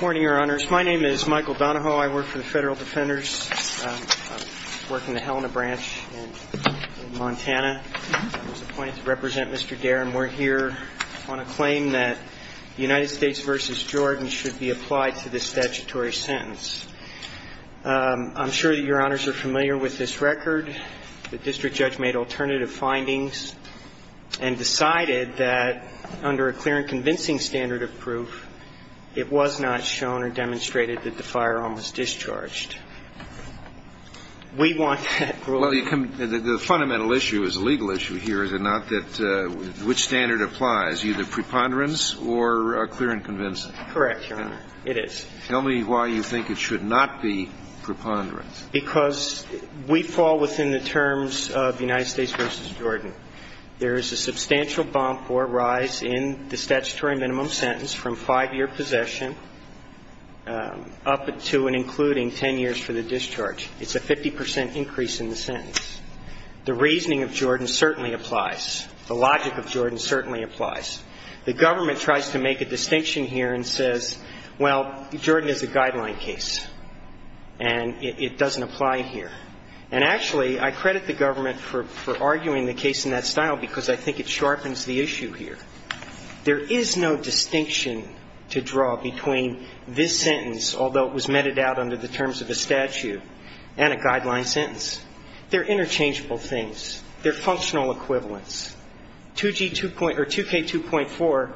Morning, your honors. My name is Michael Donahoe. I work for the Federal Defenders. I work in the Helena branch in Montana. I was appointed to represent Mr. Dare, and we're here on a claim that the United States v. Jordan should be applied to the statutory sentence. I'm sure that your honors are familiar with this record. The District Judge made alternative findings and decided that under a clear and convincing standard of proof, it was not shown or demonstrated that the firearm was discharged. We want that ruling. The fundamental issue is a legal issue here, is it not, that which standard applies, either preponderance or clear and convincing? Correct, your honor. It is. Tell me why you think it should not be preponderance. Because we fall within the terms of United States v. Jordan. There is a substantial bump or rise in the statutory minimum sentence from five-year possession up to and including ten years for the discharge. It's a 50 percent increase in the sentence. The reasoning of Jordan certainly applies. The logic of Jordan certainly applies. The government tries to make a distinction here and says, well, Jordan is a guideline case, and it doesn't apply here. And actually, I credit the government for arguing the case in that style, because I think it sharpens the issue here. There is no distinction to draw between this sentence, although it was meted out under the terms of the statute, and a guideline sentence. They're interchangeable things. They're functional equivalents. 2G2.4 or 2K2.4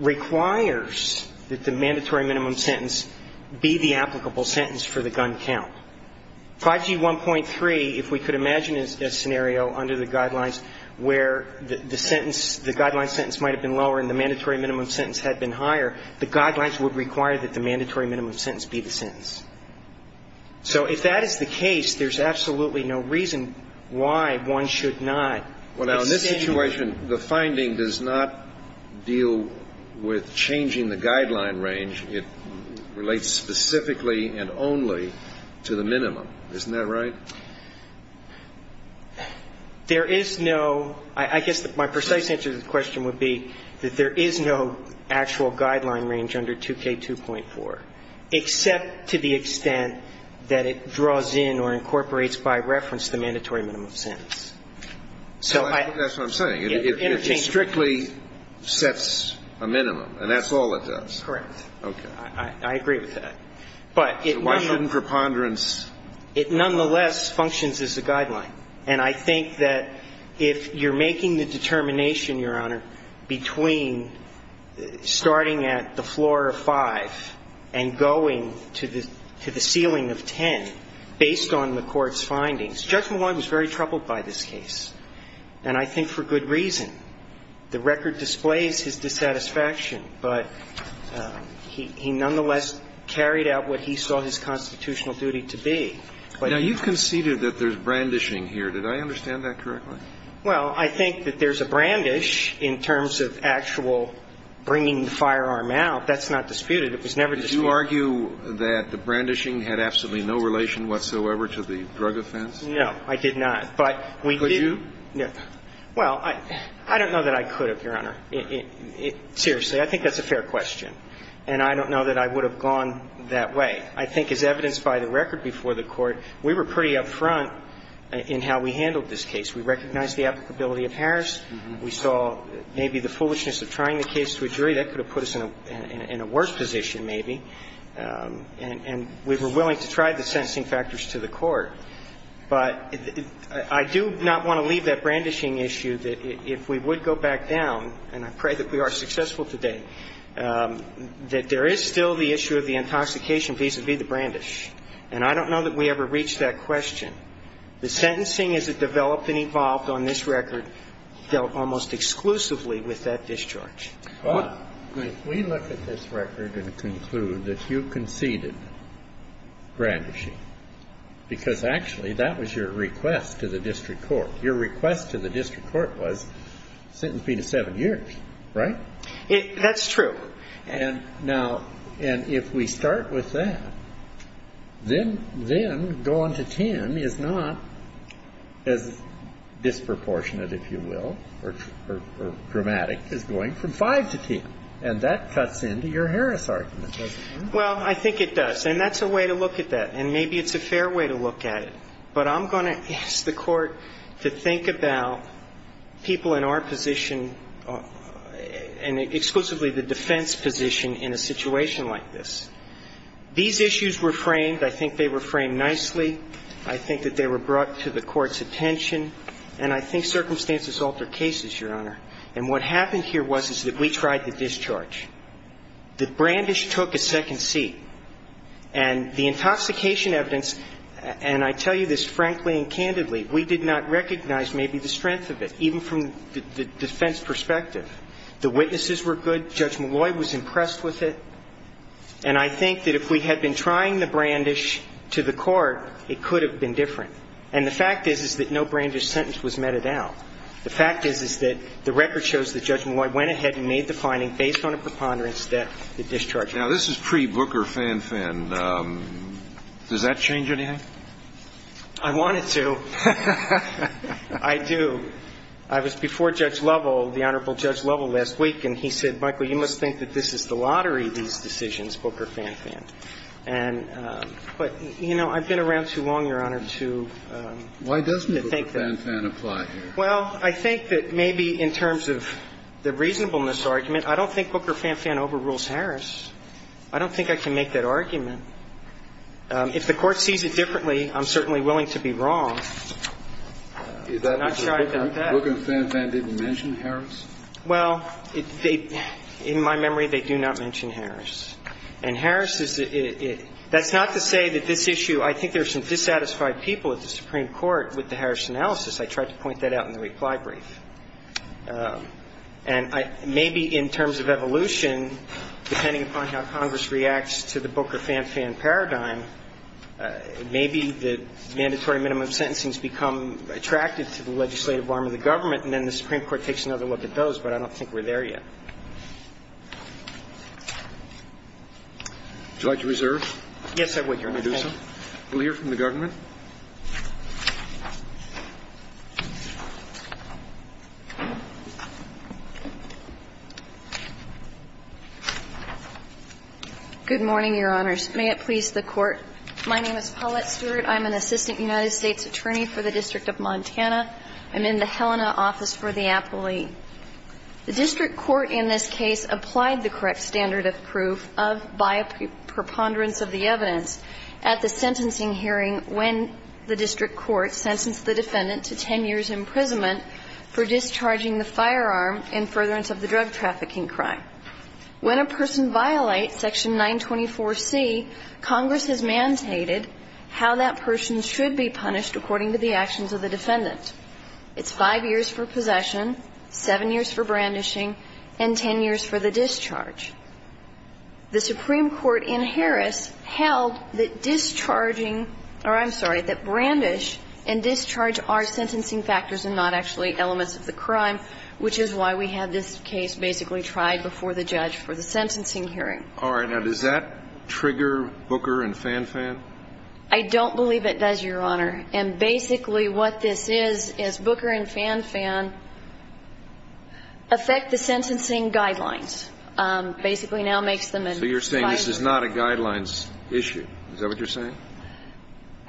requires that the mandatory minimum sentence be the applicable sentence for the gun count. 5G1.3, if we could imagine a scenario under the guidelines where the sentence, the guideline sentence might have been lower and the mandatory minimum sentence had been higher, the guidelines would require that the mandatory minimum sentence be the sentence. So if that is the case, there's absolutely no reason why one should not extend the statute. Well, now, in this situation, the finding does not deal with changing the guideline range. It relates specifically and only to the minimum. Isn't that right? There is no – I guess my precise answer to the question would be that there is no actual guideline range under 2K2.4, except to the extent that it draws in or incorporates by reference the mandatory minimum sentence. So I think that's what I'm saying. It interchangeably sets a minimum, and that's all it does. Correct. Okay. I agree with that. So why shouldn't preponderance – It nonetheless functions as a guideline. And I think that if you're making the determination, Your Honor, between starting at the floor of 5 and going to the ceiling of 10, based on the court's findings – Judge Malone was very troubled by this case, and I think for good reason. The record displays his dissatisfaction, but he nonetheless carried out what he saw his constitutional duty to be. Now, you conceded that there's brandishing here. Did I understand that correctly? Well, I think that there's a brandish in terms of actual bringing the firearm out. That's not disputed. It was never disputed. Did you argue that the brandishing had absolutely no relation whatsoever to the drug offense? No, I did not. But we did – Could you? Well, I don't know that I could have, Your Honor. Seriously, I think that's a fair question. And I don't know that I would have gone that way. I think as evidenced by the record before the Court, we were pretty up front in how we handled this case. We recognized the applicability of Harris. We saw maybe the foolishness of trying the case to a jury. That could have put us in a worse position maybe. And we were willing to try the sentencing factors to the Court. But I do not want to leave that brandishing issue that if we would go back down – and I pray that we are successful today – that there is still the issue of the intoxication vis-à-vis the brandish. And I don't know that we ever reached that question. The sentencing as it developed and evolved on this record dealt almost exclusively with that discharge. Well, if we look at this record and conclude that you conceded brandishing because actually that was your request to the district court. Your request to the district court was sentence me to seven years, right? That's true. And now – and if we start with that, then going to 10 is not as disproportionate, if you will, or dramatic as going from 5 to 10. And that cuts into your Harris argument, doesn't it? Well, I think it does. And that's a way to look at that. And maybe it's a fair way to look at it. But I'm going to ask the Court to think about people in our position and exclusively the defense position in a situation like this. These issues were framed – I think they were framed nicely. I think that they were brought to the Court's attention. And I think circumstances alter cases, Your Honor. And what happened here was that we tried the discharge. The brandish took a second seat. And the intoxication evidence – and I tell you this frankly and candidly – we did not recognize maybe the strength of it, even from the defense perspective. The witnesses were good. Judge Malloy was impressed with it. And I think that if we had been trying the brandish to the Court, it could have been different. And the fact is, is that no brandish sentence was meted out. The fact is, is that the record shows that Judge Malloy went ahead and made the finding based on a preponderance that the discharge was meted out. Now, this is pre-Booker-Fan-Fan. Does that change anything? I want it to. I do. I was before Judge Lovell, the Honorable Judge Lovell, last week, and he said, Michael, you must think that this is the lottery, these decisions, Booker-Fan-Fan. And – but, you know, I've been around too long, Your Honor, to think that – Why doesn't Booker-Fan-Fan apply here? Well, I think that maybe in terms of the reasonableness argument, I don't think Booker-Fan-Fan overrules Harris. I don't think I can make that argument. If the Court sees it differently, I'm certainly willing to be wrong. I'm not sure I doubt that. Booker-Fan-Fan didn't mention Harris? Well, they – in my memory, they do not mention Harris. And Harris is – that's not to say that this issue – I think there's some dissatisfied people at the Supreme Court with the Harris analysis. I tried to point that out in the reply brief. And I – maybe in terms of evolution, depending upon how Congress reacts to the Booker-Fan-Fan paradigm, maybe the mandatory minimum sentencing has become attracted to the legislative arm of the government, and then the Supreme Court takes another look at those, but I don't think we're there yet. Would you like to reserve? Yes, I would, Your Honor. Can I do so? We'll hear from the government. Good morning, Your Honors. May it please the Court. My name is Paulette Stewart. I'm an assistant United States attorney for the District of Montana. I'm in the Helena office for the appellee. The district court in this case applied the correct standard of proof of by preponderance of the evidence at the sentencing hearing when the district court sentenced the defendant to 10 years' imprisonment for discharging the firearm in furtherance of the drug trafficking crime. When a person violates Section 924C, Congress has mandated how that person should be punished according to the actions of the defendant. It's 5 years for possession, 7 years for brandishing, and 10 years for the discharge. The Supreme Court in Harris held that discharging or, I'm sorry, that brandish and discharge are sentencing factors and not actually elements of the crime, which is why we had this case basically tried before the judge for the sentencing hearing. All right. Now, does that trigger Booker and FanFan? I don't believe it does, Your Honor. And basically what this is is Booker and FanFan affect the sentencing guidelines. Basically now makes them in 5 years. So you're saying this is not a guidelines issue. Is that what you're saying?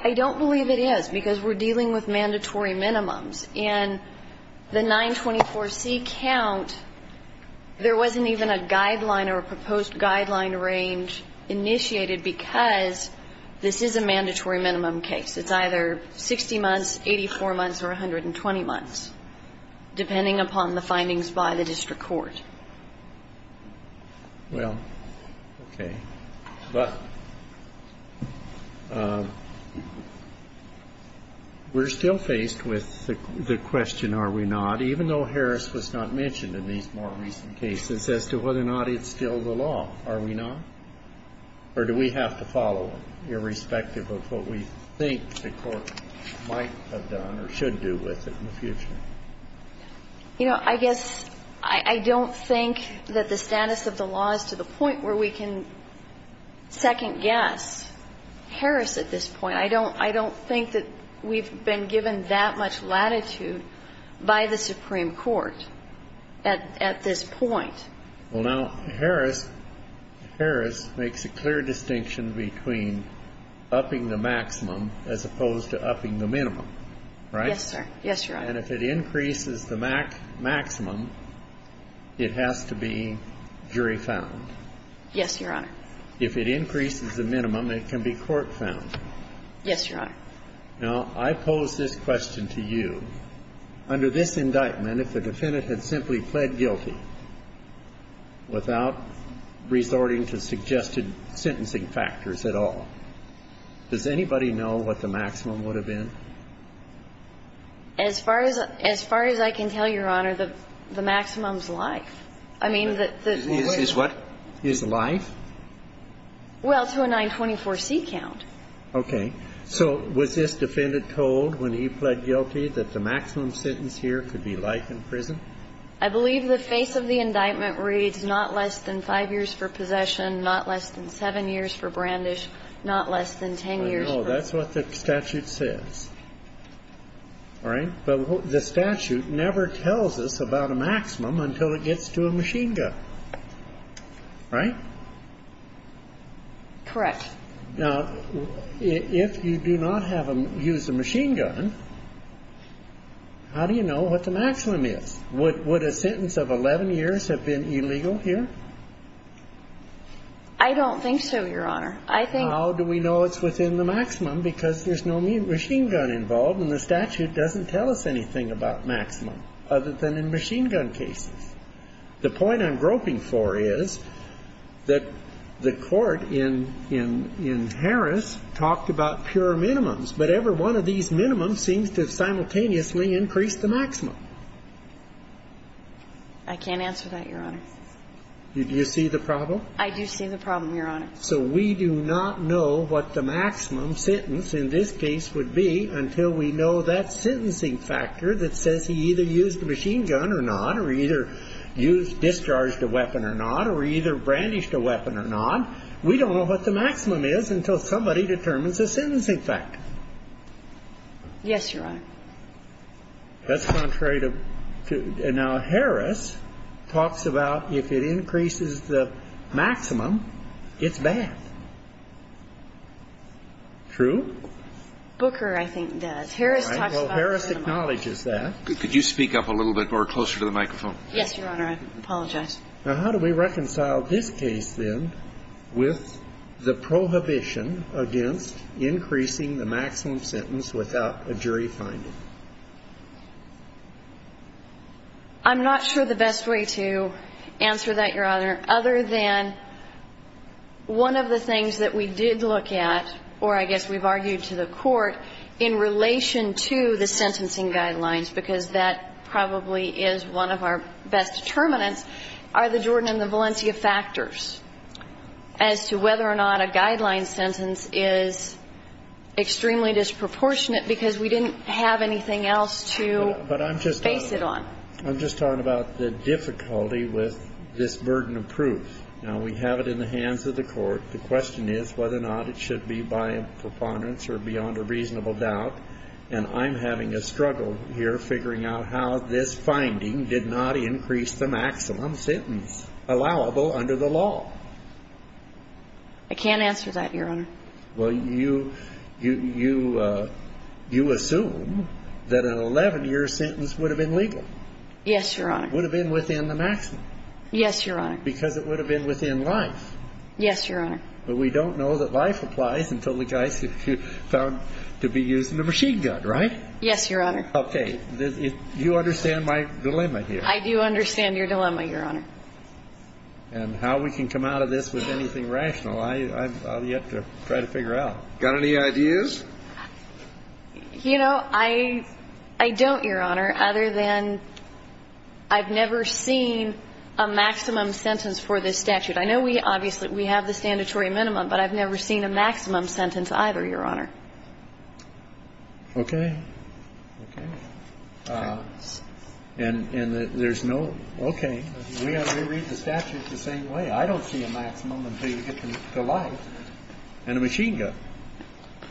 I don't believe it is because we're dealing with mandatory minimums. In the 924C count, there wasn't even a guideline or a proposed guideline range initiated because this is a mandatory minimum case. It's either 60 months, 84 months, or 120 months, depending upon the findings by the district court. Well, okay. But we're still faced with the question, are we not, even though Harris was not mentioned in these more recent cases, as to whether or not it's still the law. Are we not? Or do we have to follow it, irrespective of what we think the court might have done or should do with it in the future? You know, I guess I don't think that the status of the law is to the point where we can second-guess Harris at this point. I don't think that we've been given that much latitude by the Supreme Court at this point. Well, now, Harris makes a clear distinction between upping the maximum as opposed to upping the minimum, right? Yes, sir. Yes, Your Honor. And if it increases the maximum, it has to be jury-found. Yes, Your Honor. If it increases the minimum, it can be court-found. Yes, Your Honor. Now, I pose this question to you. Under this indictment, if the defendant had simply pled guilty without resorting to suggested sentencing factors at all, does anybody know what the maximum would have been? As far as I can tell, Your Honor, the maximum is life. I mean, the way that the maximum is life? Well, to a 924C count. Okay. So was this defendant told when he pled guilty that the maximum sentence here could be life in prison? I believe the face of the indictment reads not less than 5 years for possession, not less than 7 years for brandish, not less than 10 years for ---- No, that's what the statute says, all right? But the statute never tells us about a maximum until it gets to a machine gun, right? Correct. Now, if you do not use a machine gun, how do you know what the maximum is? Would a sentence of 11 years have been illegal here? I don't think so, Your Honor. I think ---- Well, how do we know it's within the maximum? Because there's no machine gun involved, and the statute doesn't tell us anything about maximum other than in machine gun cases. The point I'm groping for is that the Court in Harris talked about pure minimums, but every one of these minimums seems to simultaneously increase the maximum. I can't answer that, Your Honor. Do you see the problem? I do see the problem, Your Honor. So we do not know what the maximum sentence in this case would be until we know that sentencing factor that says he either used a machine gun or not or either used or discharged a weapon or not or either brandished a weapon or not. We don't know what the maximum is until somebody determines a sentencing factor. Yes, Your Honor. That's contrary to ---- Now, Harris talks about if it increases the maximum, it's bad. True? Booker, I think, does. Harris talks about pure minimums. Well, Harris acknowledges that. Could you speak up a little bit more closer to the microphone? Yes, Your Honor. I apologize. Now, how do we reconcile this case, then, with the prohibition against increasing the maximum sentence without a jury finding? I'm not sure the best way to answer that, Your Honor, other than one of the things that we did look at, or I guess we've argued to the court, in relation to the sentencing guidelines, because that probably is one of our best determinants, are the Jordan and the Valencia factors as to whether or not a guideline sentence is extremely disproportionate because we didn't have anything else to base it on. But I'm just talking about the difficulty with this burden of proof. Now, we have it in the hands of the court. The question is whether or not it should be by preponderance or beyond a reasonable doubt. And I'm having a struggle here figuring out how this finding did not increase the maximum sentence allowable under the law. I can't answer that, Your Honor. Well, you assume that an 11-year sentence would have been legal. Yes, Your Honor. Would have been within the maximum. Yes, Your Honor. Because it would have been within life. Yes, Your Honor. But we don't know that life applies until the guy is found to be using a machine gun, right? Yes, Your Honor. Okay. You understand my dilemma here. I do understand your dilemma, Your Honor. And how we can come out of this with anything rational, I've yet to try to figure out. Got any ideas? You know, I don't, Your Honor, other than I've never seen a maximum sentence for this statute. I know we obviously we have the standard minimum, but I've never seen a maximum sentence either, Your Honor. Okay. Okay. And there's no, okay, we have to read the statute the same way. I don't see a maximum until you get to life and a machine gun.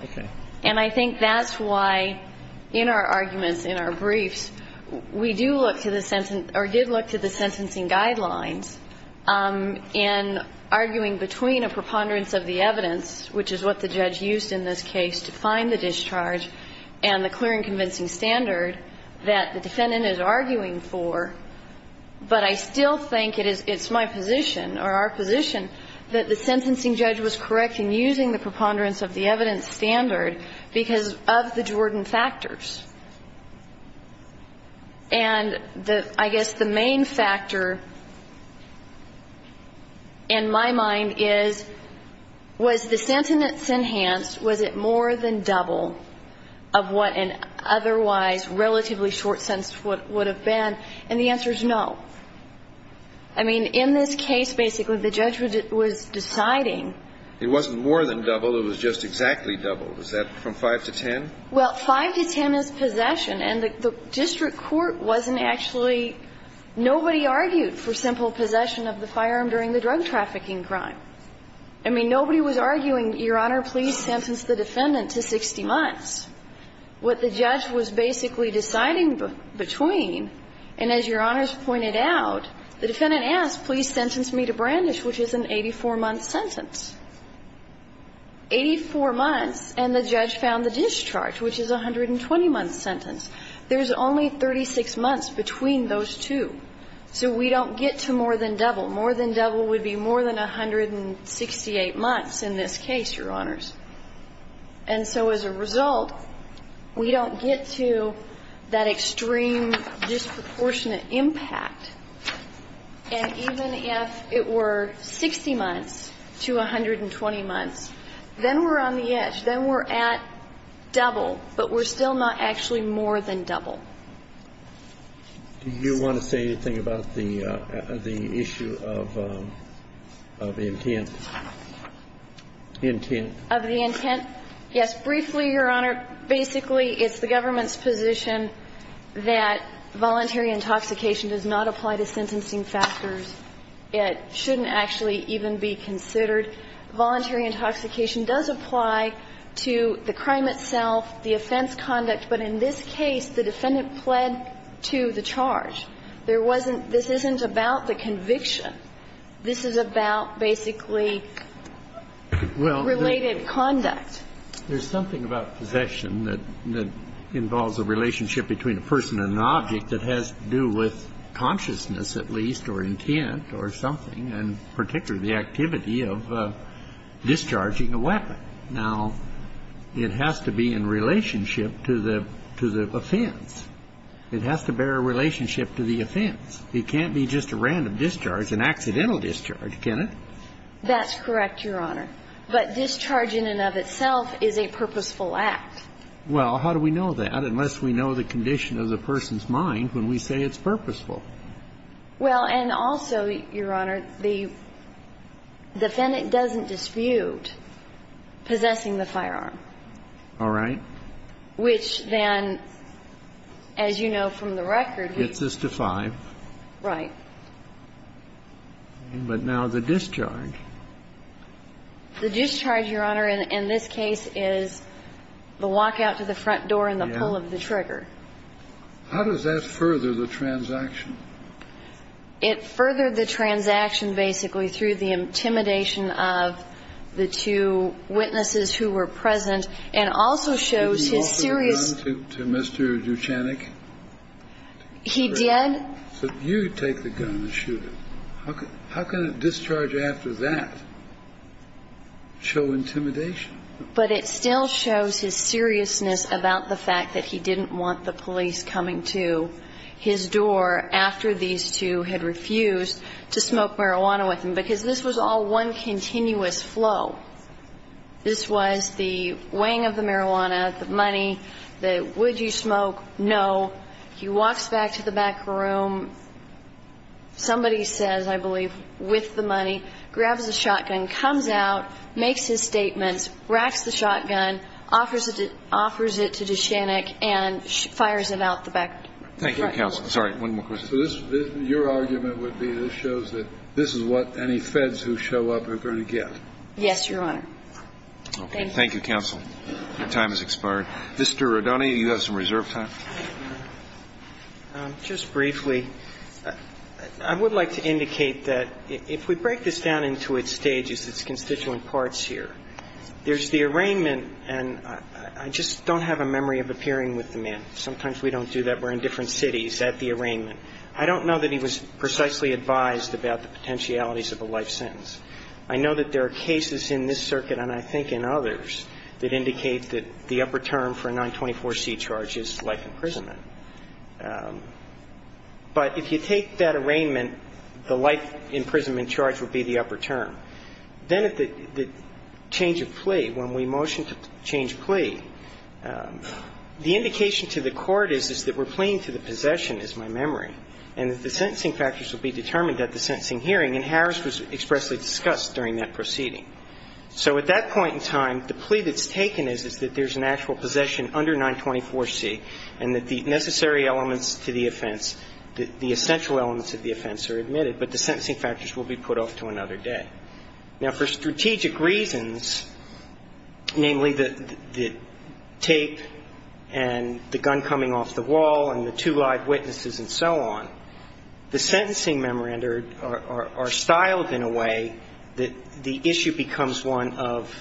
Okay. And I think that's why in our arguments, in our briefs, we do look to the sentence or did look to the sentencing guidelines in arguing between a preponderance of the evidence, which is what the judge used in this case to find the discharge and the clear and convincing standard that the defendant is arguing for. But I still think it is, it's my position or our position that the sentencing judge was correct in using the preponderance of the evidence standard because of the Jordan factors. And the, I guess the main factor in my mind is, was the sentence enhanced? Was it more than double of what an otherwise relatively short sentence would have been? And the answer is no. I mean, in this case, basically the judge was deciding. It wasn't more than double, it was just exactly double. Was that from five to 10? Well, five to 10 is possession. And the district court wasn't actually, nobody argued for simple possession of the firearm during the drug trafficking crime. I mean, nobody was arguing, Your Honor, please sentence the defendant to 60 months. What the judge was basically deciding between, and as Your Honor's pointed out, the defendant asked, please sentence me to brandish, which is an 84-month sentence. Eighty-four months, and the judge found the discharge, which is a 120-month sentence. There's only 36 months between those two. So we don't get to more than double. More than double would be more than 168 months in this case, Your Honors. And so as a result, we don't get to that extreme disproportionate impact. And even if it were 60 months to 120 months, then we're on the edge. Then we're at double, but we're still not actually more than double. Do you want to say anything about the issue of intent? Of the intent? Yes. Briefly, Your Honor, basically it's the government's position that voluntary intoxication does not apply to sentencing factors. It shouldn't actually even be considered. Voluntary intoxication does apply to the crime itself, the offense conduct. But in this case, the defendant pled to the charge. There wasn't – this isn't about the conviction. This is about basically related conduct. Well, there's something about possession that involves a relationship between a person and an object that has to do with consciousness at least or intent or something, and particularly the activity of discharging a weapon. Now, it has to be in relationship to the offense. It has to bear a relationship to the offense. It can't be just a random discharge, an accidental discharge, can it? That's correct, Your Honor. But discharging in and of itself is a purposeful act. Well, how do we know that unless we know the condition of the person's mind when we say it's purposeful? Well, and also, Your Honor, the defendant doesn't dispute possessing the firearm. All right. Which then, as you know from the record, he – Gets us to 5. Right. But now the discharge. The discharge, Your Honor, in this case is the walkout to the front door and the pull of the trigger. How does that further the transaction? It furthered the transaction basically through the intimidation of the two witnesses who were present and also shows his serious – Did he offer the gun to Mr. Duchennec? He did. So you take the gun and shoot him. How can a discharge after that show intimidation? But it still shows his seriousness about the fact that he didn't want the police coming to his door after these two had refused to smoke marijuana with him. Because this was all one continuous flow. This was the weighing of the marijuana, the money, the would you smoke, no. He walks back to the back room. Somebody says, I believe, with the money, grabs the shotgun, comes out, makes his statements, racks the shotgun, offers it to Duchennec and fires it out the back door. Thank you, counsel. Sorry, one more question. So this – your argument would be this shows that this is what any feds who show up are going to get. Yes, Your Honor. Thank you. Thank you, counsel. Your time has expired. Mr. Rodone, you have some reserve time. Just briefly, I would like to indicate that if we break this down into its stages, its constituent parts here, there's the arraignment. And I just don't have a memory of appearing with the man. Sometimes we don't do that. We're in different cities at the arraignment. I don't know that he was precisely advised about the potentialities of a life sentence. I know that there are cases in this circuit, and I think in others, that indicate that the upper term for a 924C charge is life imprisonment. But if you take that arraignment, the life imprisonment charge would be the upper term. Then at the change of plea, when we motion to change plea, the indication to the court is, is that we're playing to the possession, is my memory. And that the sentencing factors will be determined at the sentencing hearing, and Harris was expressly discussed during that proceeding. So at that point in time, the plea that's taken is, is that there's an actual possession under 924C, and that the necessary elements to the offense, the essential elements of the offense are admitted, but the sentencing factors will be put off to another day. Now, for strategic reasons, namely the tape and the gun coming off the wall and the two live witnesses and so on, the sentencing memoranda are styled in a way that the issue becomes one of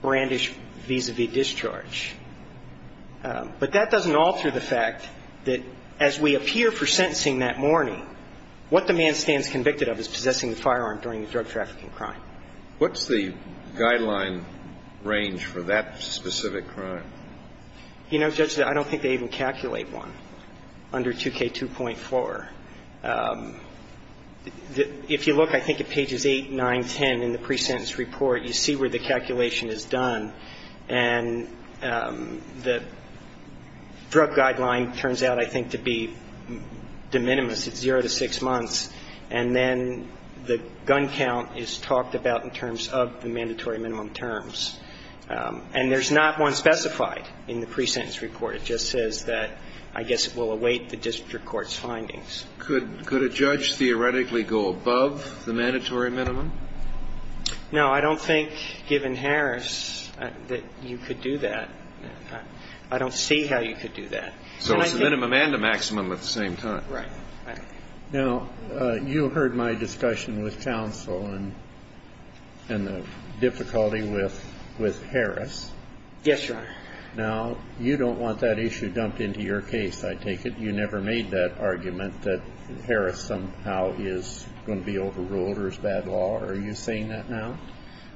brandish vis-à-vis discharge. But that doesn't alter the fact that as we appear for sentencing that morning, what the man stands convicted of is possessing a firearm during a drug trafficking crime. What's the guideline range for that specific crime? You know, Judge, I don't think they even calculate one under 2K2.4. If you look, I think at pages 8, 9, 10 in the pre-sentence report, you see where the calculation is done. And the drug guideline turns out, I think, to be de minimis at zero to six months. And then the gun count is talked about in terms of the mandatory minimum terms. And there's not one specified in the pre-sentence report. It just says that, I guess, it will await the district court's findings. Could a judge theoretically go above the mandatory minimum? No, I don't think, given Harris, that you could do that. I don't see how you could do that. So it's a minimum and a maximum at the same time. Right. Now, you heard my discussion with counsel and the difficulty with Harris. Yes, Your Honor. Now, you don't want that issue dumped into your case, I take it. You never made that argument that Harris somehow is going to be overruled or is bad law. Are you saying that now?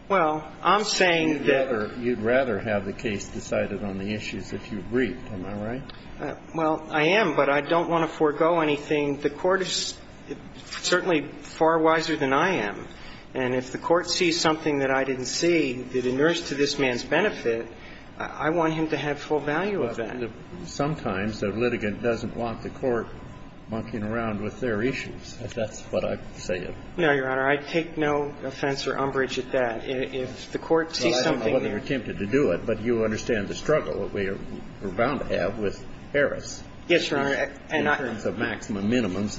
Well, I'm saying that you'd rather have the case decided on the issues if you agreed, am I right? Well, I am, but I don't want to forego anything. The court is certainly far wiser than I am. And if the court sees something that I didn't see that inures to this man's benefit, I want him to have full value of that. Sometimes the litigant doesn't want the court monkeying around with their issues, if that's what I'm saying. No, Your Honor. I take no offense or umbrage at that. If the court sees something that you're tempted to do it, but you understand the struggle that we are bound to have with Harris. Yes, Your Honor. In terms of maximum minimums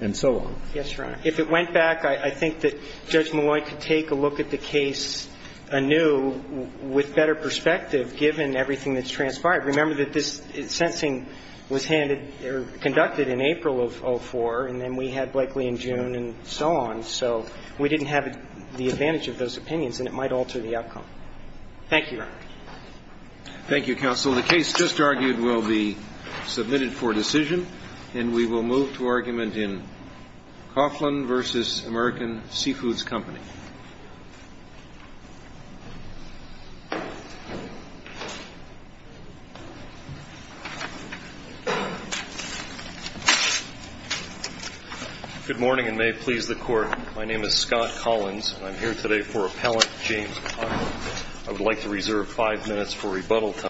and so on. Yes, Your Honor. If it went back, I think that Judge Malloy could take a look at the case anew with better perspective, given everything that's transpired. Remember that this sentencing was handed or conducted in April of 04, and then we had Blakely in June and so on. So we didn't have the advantage of those opinions, and it might alter the outcome. Thank you, Your Honor. Thank you, counsel. The case just argued will be submitted for decision, and we will move to argument in Coughlin v. American Seafoods Company. Good morning, and may it please the court. My name is Scott Collins, and I'm here today for Appellant James Coughlin. I would like to reserve five minutes for rebuttal time.